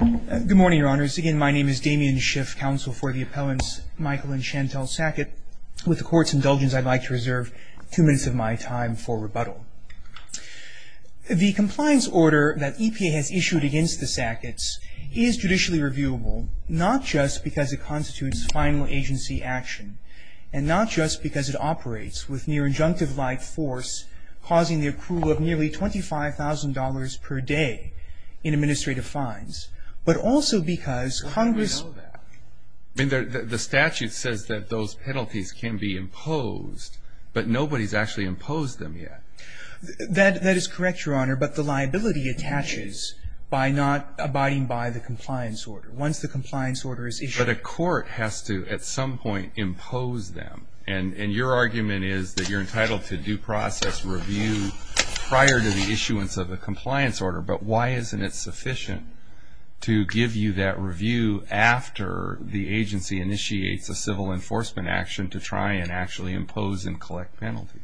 Good morning, Your Honors. Again, my name is Damien Schiff, Counsel for the Appellants Michael and Chantell Sackett. With the Court's indulgence, I'd like to reserve two minutes of my time for rebuttal. The compliance order that EPA has issued against the Sacketts is judicially reviewable, not just because it constitutes final agency action and not just because it operates with near-injunctive-like force, causing the approval of nearly $25,000 per day in administrative fines, but also because Congress... I mean, the statute says that those penalties can be imposed, but nobody's actually imposed them yet. That is correct, Your Honor, but the liability attaches by not abiding by the compliance order, once the compliance order is issued. But a court has to, at some point, impose them. And your argument is that you're entitled to due process review prior to the issuance of a compliance order, but why isn't it sufficient to give you that review after the agency initiates a civil enforcement action to try and actually impose and collect penalties?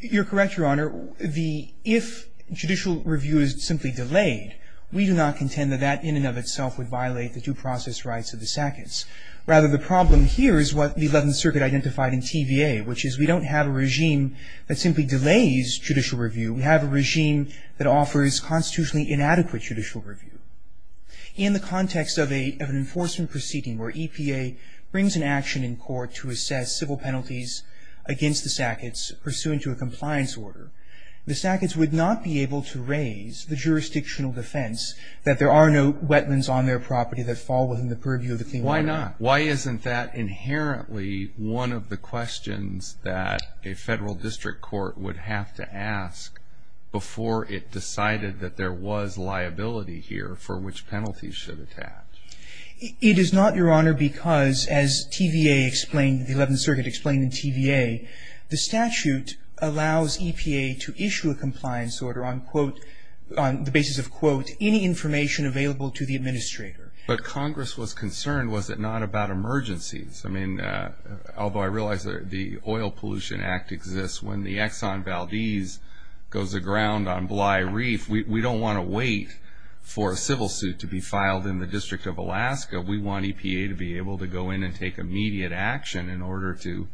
You're correct, Your Honor. If judicial review is simply delayed, we do not contend that that in and of itself would violate the due process rights of the Sacketts. Rather, the problem here is what the Eleventh Circuit identified in TVA, which is we don't have a regime that simply delays judicial review. We have a regime that offers constitutionally inadequate judicial review. In the context of an enforcement proceeding where EPA brings an action in court to assess civil penalties against the Sacketts, pursuant to a compliance order, the Sacketts would not be able to raise the jurisdictional defense that there are no wetlands on their property that fall within the purview of the Clean Water Act. Why not? Why isn't that inherently one of the questions that a federal district court would have to ask before it decided that there was liability here for which penalties should attach? It is not, Your Honor, because as TVA explained, the Eleventh Circuit explained in TVA, the statute allows EPA to issue a compliance order on the basis of, quote, any information available to the administrator. But Congress was concerned, was it not, about emergencies? I mean, although I realize that the Oil Pollution Act exists, when the Exxon Valdez goes aground on Bly Reef, we don't want to wait for a civil suit to be filed in the District of Alaska. We want EPA to be able to go in and take immediate action in order to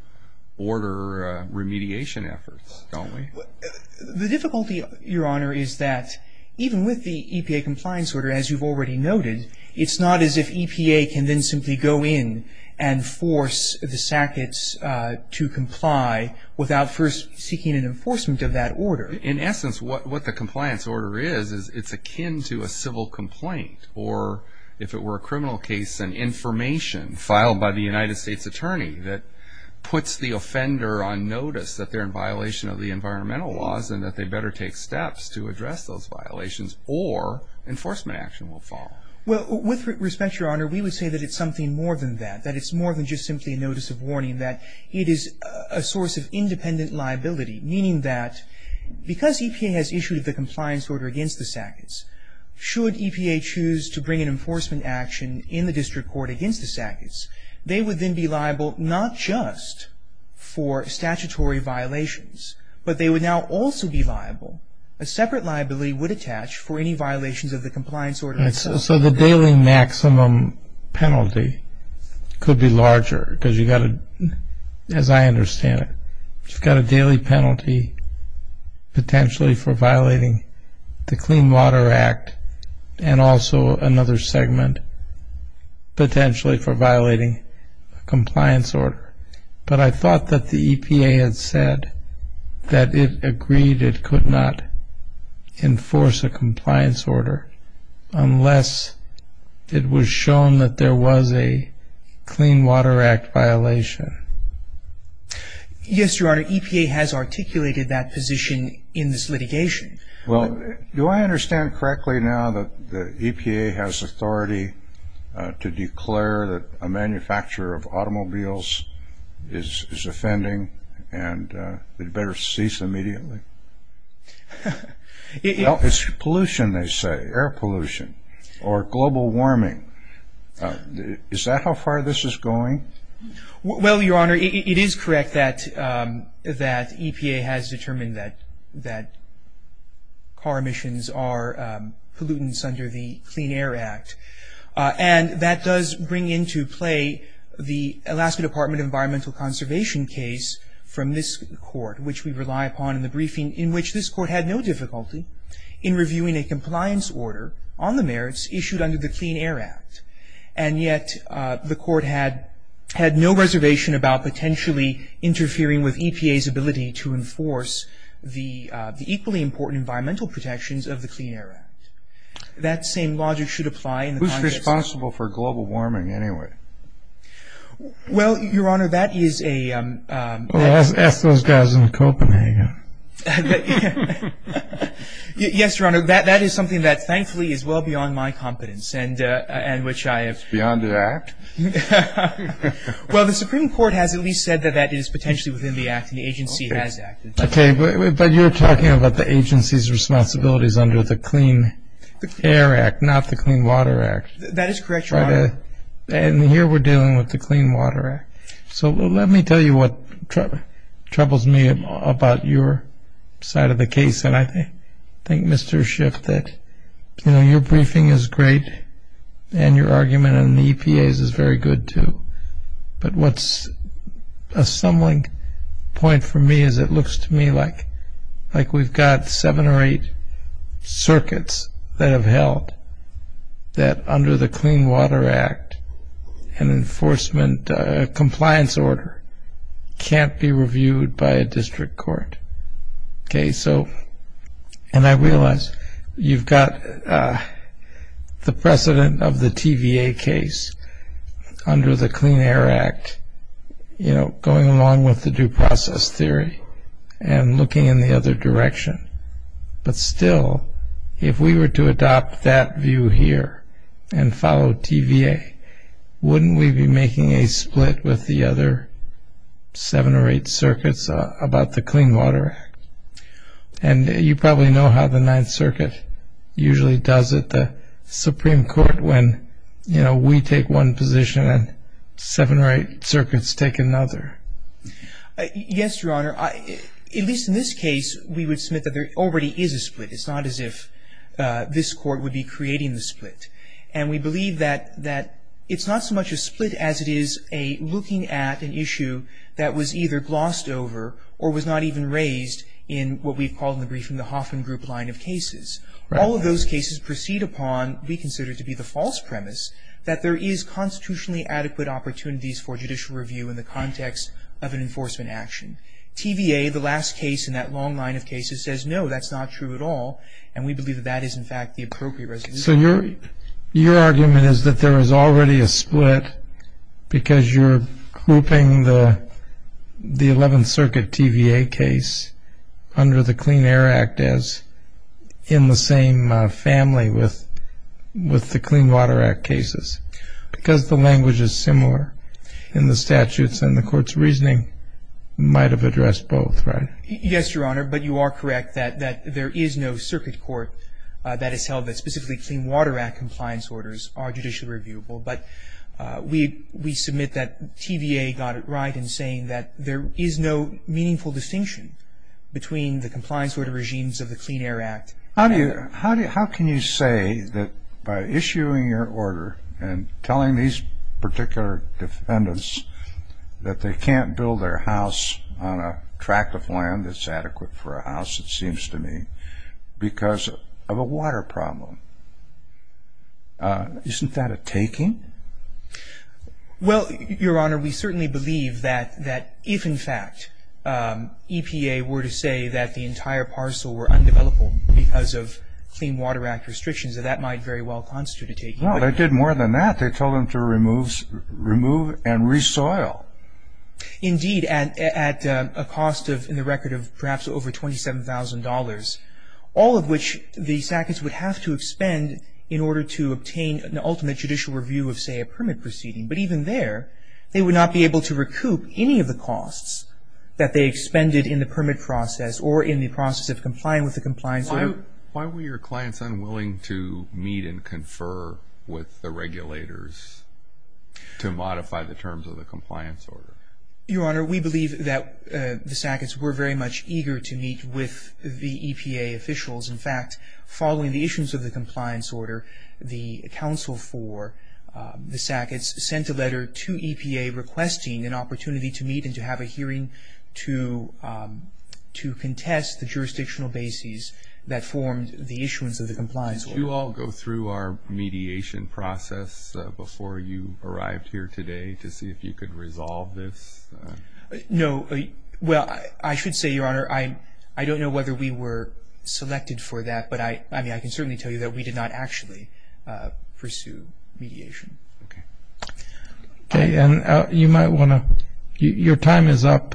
order remediation efforts, don't we? The difficulty, Your Honor, is that even with the EPA compliance order, as you've already noted, it's not as if EPA can then simply go in and force the Sacketts to comply without first seeking an enforcement of that order. In essence, what the compliance order is, is it's akin to a civil complaint. Or if it were a criminal case, an information filed by the United States Attorney that puts the offender on notice that they're in violation of the environmental laws and that they better take steps to address those violations or enforcement action will fall. Well, with respect, Your Honor, we would say that it's something more than that. That it's more than just simply a notice of warning. That it is a source of independent liability. Meaning that because EPA has issued the compliance order against the Sacketts, should EPA choose to bring an enforcement action in the district court against the Sacketts, they would then be liable not just for statutory violations, but they would now also be liable. A separate liability would attach for any violations of the compliance order itself. So the daily maximum penalty could be larger because you've got to, as I understand it, you've got a daily penalty potentially for violating the Clean Water Act and also another segment potentially for violating a compliance order. But I thought that the EPA had said that it agreed it could not enforce a compliance order unless it was shown that there was a Clean Water Act violation. Yes, Your Honor, EPA has articulated that position in this litigation. Well, do I understand correctly now that EPA has authority to declare that a manufacturer of automobiles is offending and they'd better cease immediately? Well, it's pollution, they say, air pollution or global warming. Is that how far this is going? Well, Your Honor, it is correct that EPA has determined that car emissions are pollutants under the Clean Air Act. And that does bring into play the Alaska Department of Environmental Conservation case from this court, which we rely upon in the briefing, in which this court had no difficulty in reviewing a compliance order on the merits issued under the Clean Air Act. And yet the court had no reservation about potentially interfering with EPA's ability to enforce the equally important environmental protections of the Clean Air Act. That same logic should apply in the Congress. Who's responsible for global warming anyway? Well, Your Honor, that is a... Well, ask those guys in Copenhagen. Yes, Your Honor, that is something that thankfully is well beyond my competence and which I have... It's beyond the act? Well, the Supreme Court has at least said that that is potentially within the act and the agency has acted. Okay, but you're talking about the agency's responsibilities under the Clean Air Act, not the Clean Water Act. That is correct, Your Honor. And here we're dealing with the Clean Water Act. So let me tell you what troubles me about your side of the case. And I think, Mr. Schiff, that, you know, your briefing is great and your argument on the EPA's is very good, too. But what's a stumbling point for me is it looks to me like we've got seven or eight circuits that have held that under the Clean Water Act an enforcement compliance order can't be reviewed by a district court. Okay, so... And I realize you've got the precedent of the TVA case under the Clean Air Act, you know, going along with the due process theory and looking in the other direction. But still, if we were to adopt that view here and follow TVA, wouldn't we be making a split with the other seven or eight circuits about the Clean Water Act? And you probably know how the Ninth Circuit usually does it, the Supreme Court, when, you know, we take one position and seven or eight circuits take another. Yes, Your Honor. At least in this case, we would submit that there already is a split. It's not as if this court would be creating the split. And we believe that it's not so much a split as it is a looking at an issue that was either glossed over or was not even raised in what we've called in the briefing the Hoffman Group line of cases. All of those cases proceed upon what we consider to be the false premise that there is constitutionally adequate opportunities for judicial review in the context of an enforcement action. TVA, the last case in that long line of cases, says no, that's not true at all. And we believe that that is, in fact, the appropriate resolution. Okay. So your argument is that there is already a split because you're grouping the Eleventh Circuit TVA case under the Clean Air Act as in the same family with the Clean Water Act cases. Because the language is similar in the statutes and the court's reasoning might have addressed both, right? Yes, Your Honor. But you are correct that there is no circuit court that has held that specifically Clean Water Act compliance orders are judicially reviewable. But we submit that TVA got it right in saying that there is no meaningful distinction between the compliance order regimes of the Clean Air Act. How can you say that by issuing your order and telling these particular defendants that they can't build their house on a tract of land that's adequate for a house, it seems to me, because of a water problem? Isn't that a taking? Well, Your Honor, we certainly believe that if, in fact, EPA were to say that the entire parcel were undeveloped because of Clean Water Act restrictions, that that might very well constitute a taking. Well, they did more than that. They told them to remove and resoil. Indeed, at a cost in the record of perhaps over $27,000, all of which the sackets would have to expend in order to obtain an ultimate judicial review of, say, a permit proceeding. But even there, they would not be able to recoup any of the costs that they expended in the permit process or in the process of complying with the compliance order. Why were your clients unwilling to meet and confer with the regulators to modify the terms of the compliance order? Your Honor, we believe that the sackets were very much eager to meet with the EPA officials. In fact, following the issues of the compliance order, the counsel for the sackets sent a letter to EPA requesting an opportunity to meet and to have a hearing to contest the jurisdictional bases that formed the issuance of the compliance order. Did you all go through our mediation process before you arrived here today to see if you could resolve this? No. Well, I should say, Your Honor, I don't know whether we were selected for that, but I can certainly tell you that we did not actually pursue mediation. Okay. Okay, and you might want to – your time is up,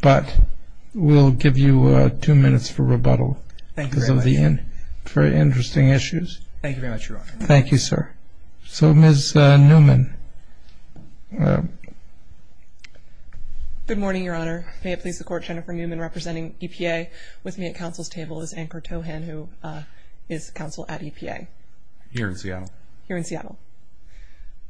but we'll give you two minutes for rebuttal. Thank you very much, Your Honor. Very interesting issues. Thank you very much, Your Honor. Thank you, sir. So Ms. Newman. Good morning, Your Honor. May it please the Court, Jennifer Newman representing EPA. With me at counsel's table is Ankur Tohan, who is counsel at EPA. Here in Seattle. Here in Seattle.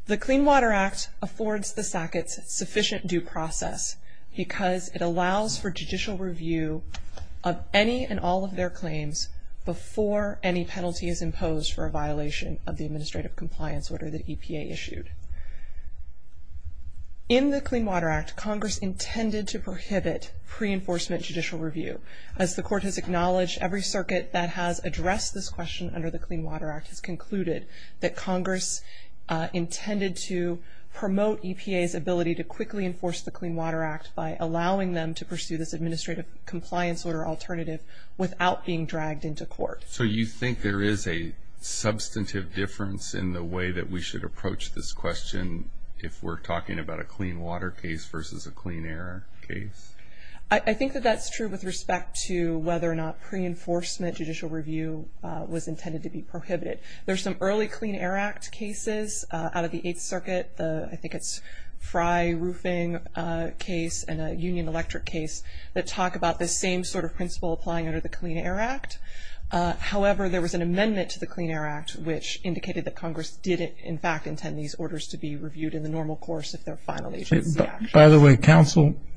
The Clean Water Act affords the SACCOTS sufficient due process because it allows for judicial review of any and all of their claims before any penalty is imposed for a violation of the administrative compliance order that EPA issued. In the Clean Water Act, Congress intended to prohibit pre-enforcement judicial review. As the Court has acknowledged, every circuit that has addressed this question under the Clean Water Act has concluded that Congress intended to promote EPA's ability to quickly enforce the Clean Water Act by allowing them to pursue this administrative compliance order alternative without being dragged into court. So you think there is a substantive difference in the way that we should approach this question if we're talking about a clean water case versus a clean air case? I think that that's true with respect to whether or not pre-enforcement judicial review was intended to be prohibited. There are some early Clean Air Act cases out of the Eighth Circuit, I think it's Fry Roofing case and a Union Electric case, that talk about this same sort of principle applying under the Clean Air Act. However, there was an amendment to the Clean Air Act which indicated that Congress did in fact intend these orders to be reviewed in the normal course if they're final agency actions. By the way,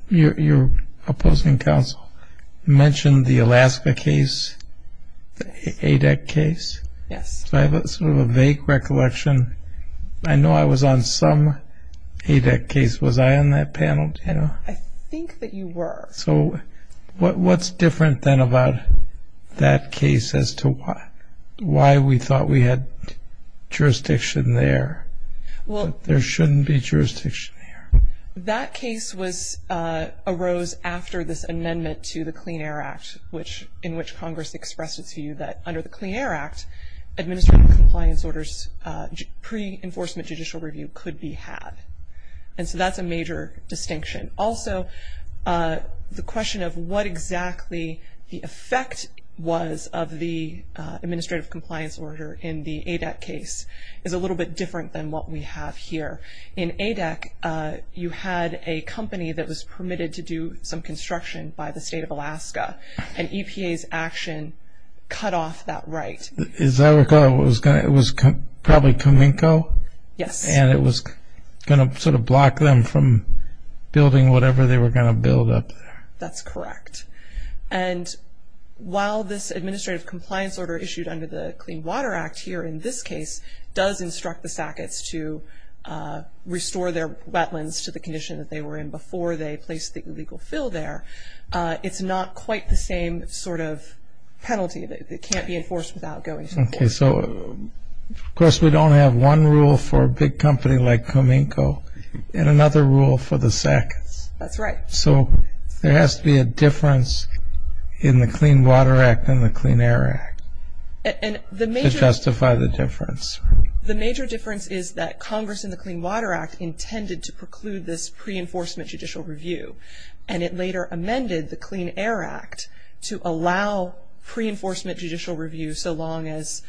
your opposing counsel mentioned the Alaska case, the ADEC case. Yes. So I have sort of a vague recollection. I know I was on some ADEC case. Was I on that panel, Dana? I think that you were. So what's different then about that case as to why we thought we had jurisdiction there? There shouldn't be jurisdiction there. That case arose after this amendment to the Clean Air Act in which Congress expressed its view that under the Clean Air Act, administrative compliance orders pre-enforcement judicial review could be had. And so that's a major distinction. Also, the question of what exactly the effect was of the administrative compliance order in the ADEC case is a little bit different than what we have here. In ADEC, you had a company that was permitted to do some construction by the state of Alaska, and EPA's action cut off that right. Is that what it was? It was probably Cominco? Yes. And it was going to sort of block them from building whatever they were going to build up there? That's correct. And while this administrative compliance order issued under the Clean Water Act here in this case does instruct the SACETs to restore their wetlands to the condition that they were in before they placed the illegal fill there, it's not quite the same sort of penalty that can't be enforced without going to court. Okay. So, of course, we don't have one rule for a big company like Cominco and another rule for the SACETs. That's right. So there has to be a difference in the Clean Water Act and the Clean Air Act to justify the difference. The major difference is that Congress in the Clean Water Act intended to preclude this pre-enforcement judicial review, and it later amended the Clean Air Act to allow pre-enforcement judicial review so long as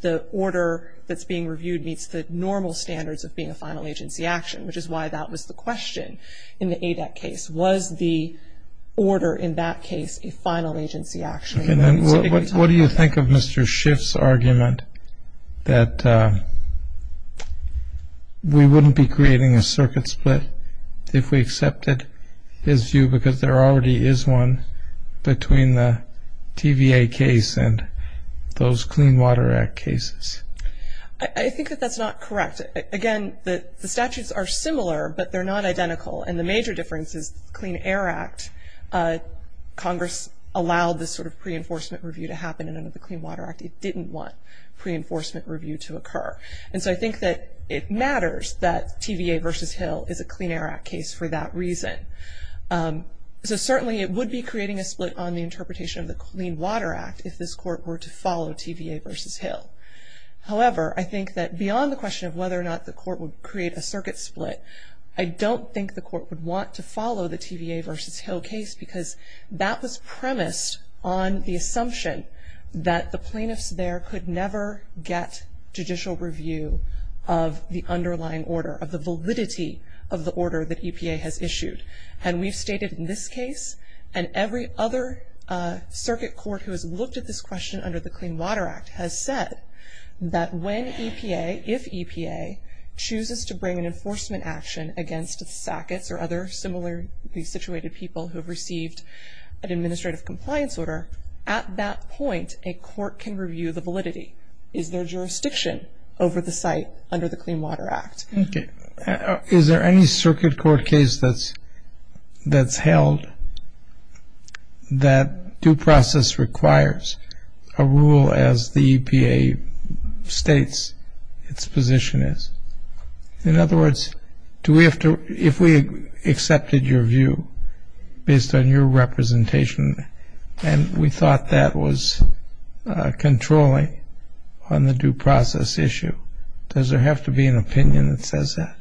the order that's being reviewed meets the normal standards of being a final agency action, which is why that was the question in the ADEC case. Was the order in that case a final agency action? What do you think of Mr. Schiff's argument that we wouldn't be creating a circuit split if we accepted his view because there already is one between the TVA case and those Clean Water Act cases? I think that that's not correct. Again, the statutes are similar, but they're not identical, and the major difference is the Clean Air Act, Congress allowed this sort of pre-enforcement review to happen, and under the Clean Water Act it didn't want pre-enforcement review to occur. And so I think that it matters that TVA v. Hill is a Clean Air Act case for that reason. So certainly it would be creating a split on the interpretation of the Clean Water Act if this court were to follow TVA v. Hill. However, I think that beyond the question of whether or not the court would create a circuit split, I don't think the court would want to follow the TVA v. Hill case because that was premised on the assumption that the plaintiffs there could never get judicial review of the underlying order, of the validity of the order that EPA has issued. And we've stated in this case and every other circuit court who has looked at this question under the Clean Water Act has said that when EPA, if EPA, chooses to bring an enforcement action against the SACETs or other similarly situated people who have received an administrative compliance order, at that point a court can review the validity. Is there jurisdiction over the site under the Clean Water Act? Is there any circuit court case that's held that due process requires a rule as the EPA states its position is? In other words, if we accepted your view based on your representation and we thought that was controlling on the due process issue, does there have to be an opinion that says that?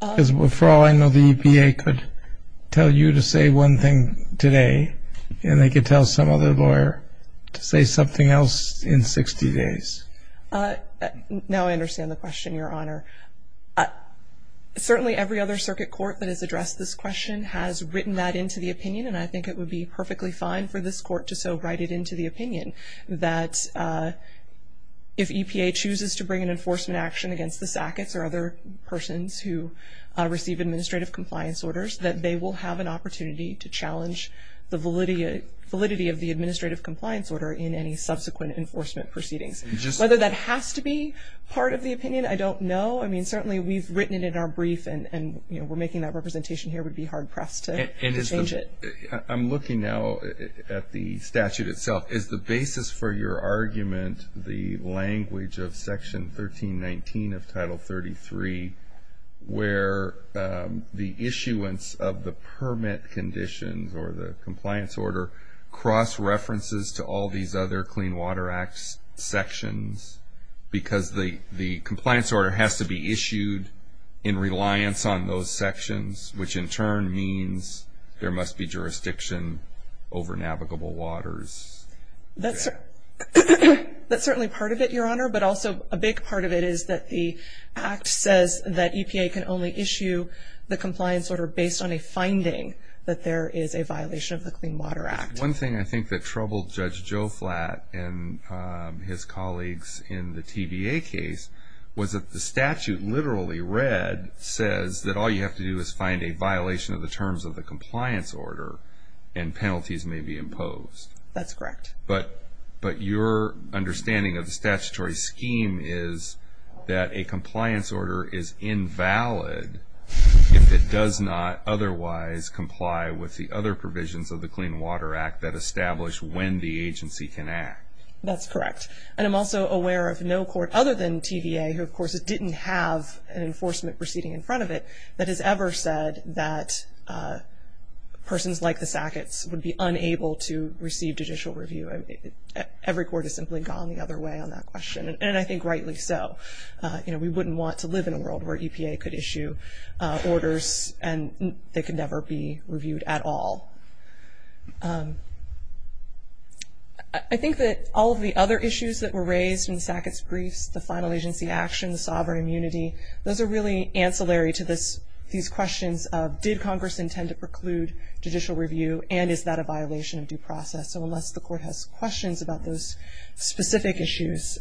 Because for all I know, the EPA could tell you to say one thing today and they could tell some other lawyer to say something else in 60 days. Now I understand the question, Your Honor. Certainly every other circuit court that has addressed this question has written that into the opinion, and I think it would be perfectly fine for this court to so write it into the opinion, that if EPA chooses to bring an enforcement action against the SACETs or other persons who receive administrative compliance orders, that they will have an opportunity to challenge the validity of the administrative compliance order in any subsequent enforcement proceedings. Whether that has to be part of the opinion, I don't know. I mean, certainly we've written it in our brief, and we're making that representation here. It would be hard-pressed to change it. I'm looking now at the statute itself. Is the basis for your argument the language of Section 1319 of Title 33, where the issuance of the permit conditions or the compliance order cross-references to all these other Clean Water Act sections because the compliance order has to be issued in reliance on those sections, which in turn means there must be jurisdiction over navigable waters? That's certainly part of it, Your Honor, but also a big part of it is that the Act says that EPA can only issue the compliance order based on a finding that there is a violation of the Clean Water Act. One thing I think that troubled Judge Joe Flatt and his colleagues in the TVA case was that the statute literally read, says that all you have to do is find a violation of the terms of the compliance order and penalties may be imposed. That's correct. But your understanding of the statutory scheme is that a compliance order is invalid if it does not otherwise comply with the other provisions of the Clean Water Act that establish when the agency can act. That's correct. And I'm also aware of no court other than TVA, who of course didn't have an enforcement proceeding in front of it, that has ever said that persons like the Sacketts would be unable to receive judicial review. Every court has simply gone the other way on that question, and I think rightly so. We wouldn't want to live in a world where EPA could issue orders and they could never be reviewed at all. I think that all of the other issues that were raised in the Sacketts briefs, the final agency action, the sovereign immunity, those are really ancillary to these questions of did Congress intend to preclude judicial review and is that a violation of due process. So unless the court has questions about those specific issues,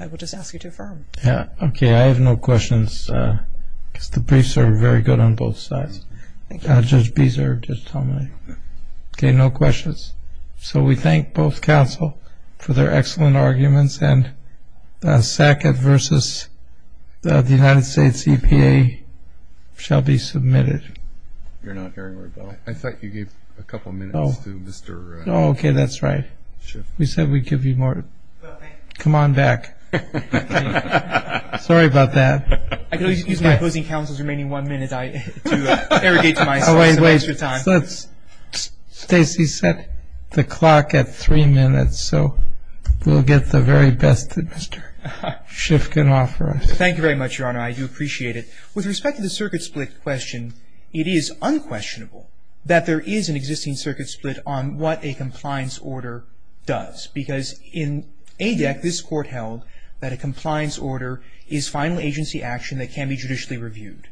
I will just ask you to affirm. Okay. I have no questions because the briefs are very good on both sides. Judge Beeser, just tell me. Okay. No questions. So we thank both counsel for their excellent arguments and the Sackett versus the United States EPA shall be submitted. I thought you gave a couple minutes to Mr. Schiff. Oh, okay, that's right. We said we'd give you more. Come on back. Sorry about that. I could always use my opposing counsel's remaining one minute to arrogate to myself some extra time. Stacey set the clock at three minutes, so we'll get the very best that Mr. Schiff can offer us. Thank you very much, Your Honor. I do appreciate it. With respect to the circuit split question, it is unquestionable that there is an existing circuit split on what a compliance order does because in ADEC this court held that a compliance order is final agency action that can be judicially reviewed.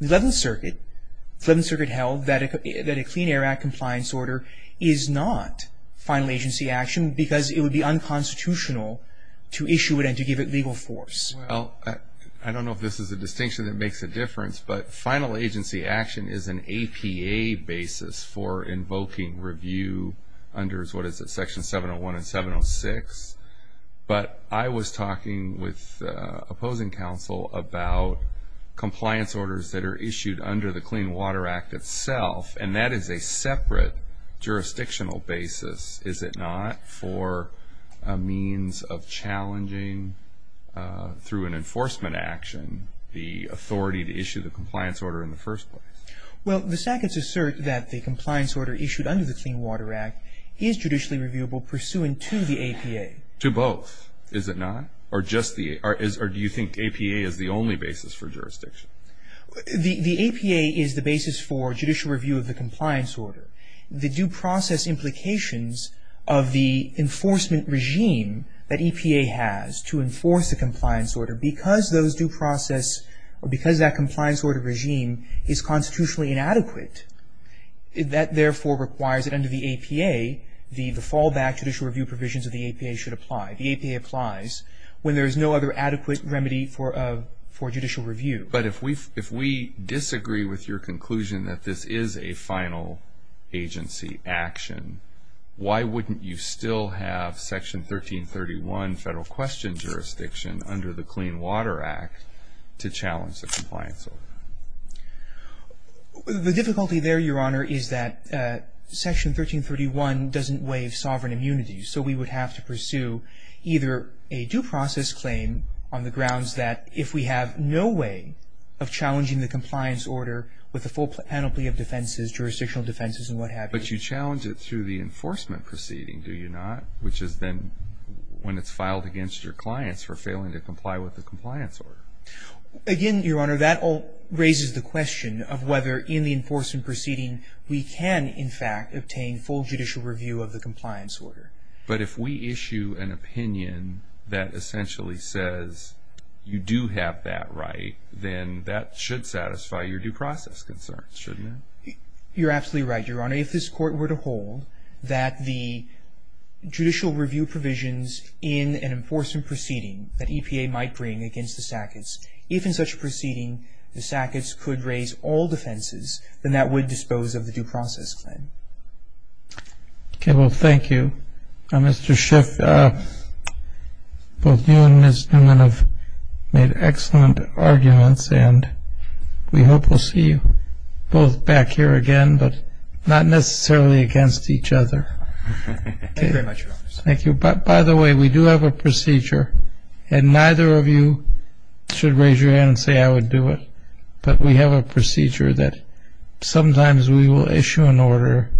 The Eleventh Circuit held that a Clean Air Act compliance order is not final agency action because it would be unconstitutional to issue it and to give it legal force. Well, I don't know if this is a distinction that makes a difference, but final agency action is an APA basis for invoking review under, what is it, Section 701 and 706. But I was talking with opposing counsel about compliance orders that are issued under the Clean Water Act itself, and that is a separate jurisdictional basis, is it not, for a means of challenging, through an enforcement action, the authority to issue the compliance order in the first place? Well, the sackets assert that the compliance order issued under the Clean Water Act is judicially reviewable pursuant to the APA. To both, is it not? Or do you think APA is the only basis for jurisdiction? The APA is the basis for judicial review of the compliance order. The due process implications of the enforcement regime that EPA has to enforce the compliance order, because those due process, because that compliance order regime is constitutionally inadequate, that therefore requires that under the APA, the fallback judicial review provisions of the APA should apply. The APA applies when there is no other adequate remedy for judicial review. But if we disagree with your conclusion that this is a final agency action, why wouldn't you still have Section 1331 Federal Question Jurisdiction under the Clean Water Act to challenge the compliance order? The difficulty there, Your Honor, is that Section 1331 doesn't waive sovereign immunity, so we would have to pursue either a due process claim on the grounds that if we have no way of challenging the compliance order with the full penalty of defenses, jurisdictional defenses and what have you. But you challenge it through the enforcement proceeding, do you not? Which is then when it's filed against your clients for failing to comply with the compliance order. Again, Your Honor, that all raises the question of whether in the enforcement proceeding we can, in fact, obtain full judicial review of the compliance order. But if we issue an opinion that essentially says you do have that right, then that should satisfy your due process concerns, shouldn't it? You're absolutely right, Your Honor. If this Court were to hold that the judicial review provisions in an enforcement proceeding that EPA might bring against the SACIS, if in such a proceeding the SACIS could raise all defenses, then that would dispose of the due process claim. Okay. Well, thank you. Mr. Schiff, both you and Ms. Newman have made excellent arguments, and we hope we'll see you both back here again, but not necessarily against each other. Thank you very much, Your Honor. Thank you. By the way, we do have a procedure, and neither of you should raise your hand and say I would do it, but we have a procedure that sometimes we will issue an order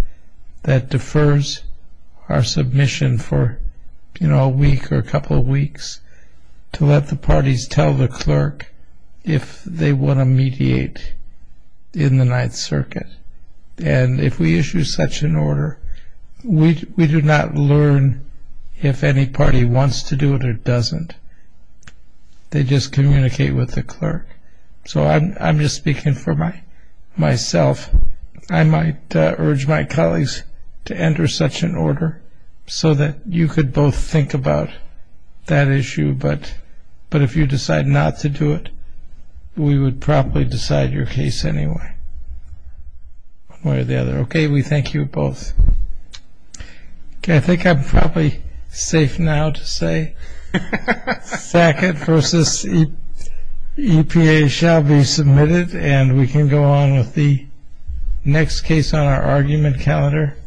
that defers our submission for, you know, a week or a couple of weeks to let the parties tell the clerk if they want to mediate in the Ninth Circuit. And if we issue such an order, we do not learn if any party wants to do it or doesn't. They just communicate with the clerk. So I'm just speaking for myself. I might urge my colleagues to enter such an order so that you could both think about that issue, but if you decide not to do it, we would probably decide your case anyway. One or the other. Okay. We thank you both. Okay, I think I'm probably safe now to say Sackett v. EPA shall be submitted, and we can go on with the next case on our argument calendar.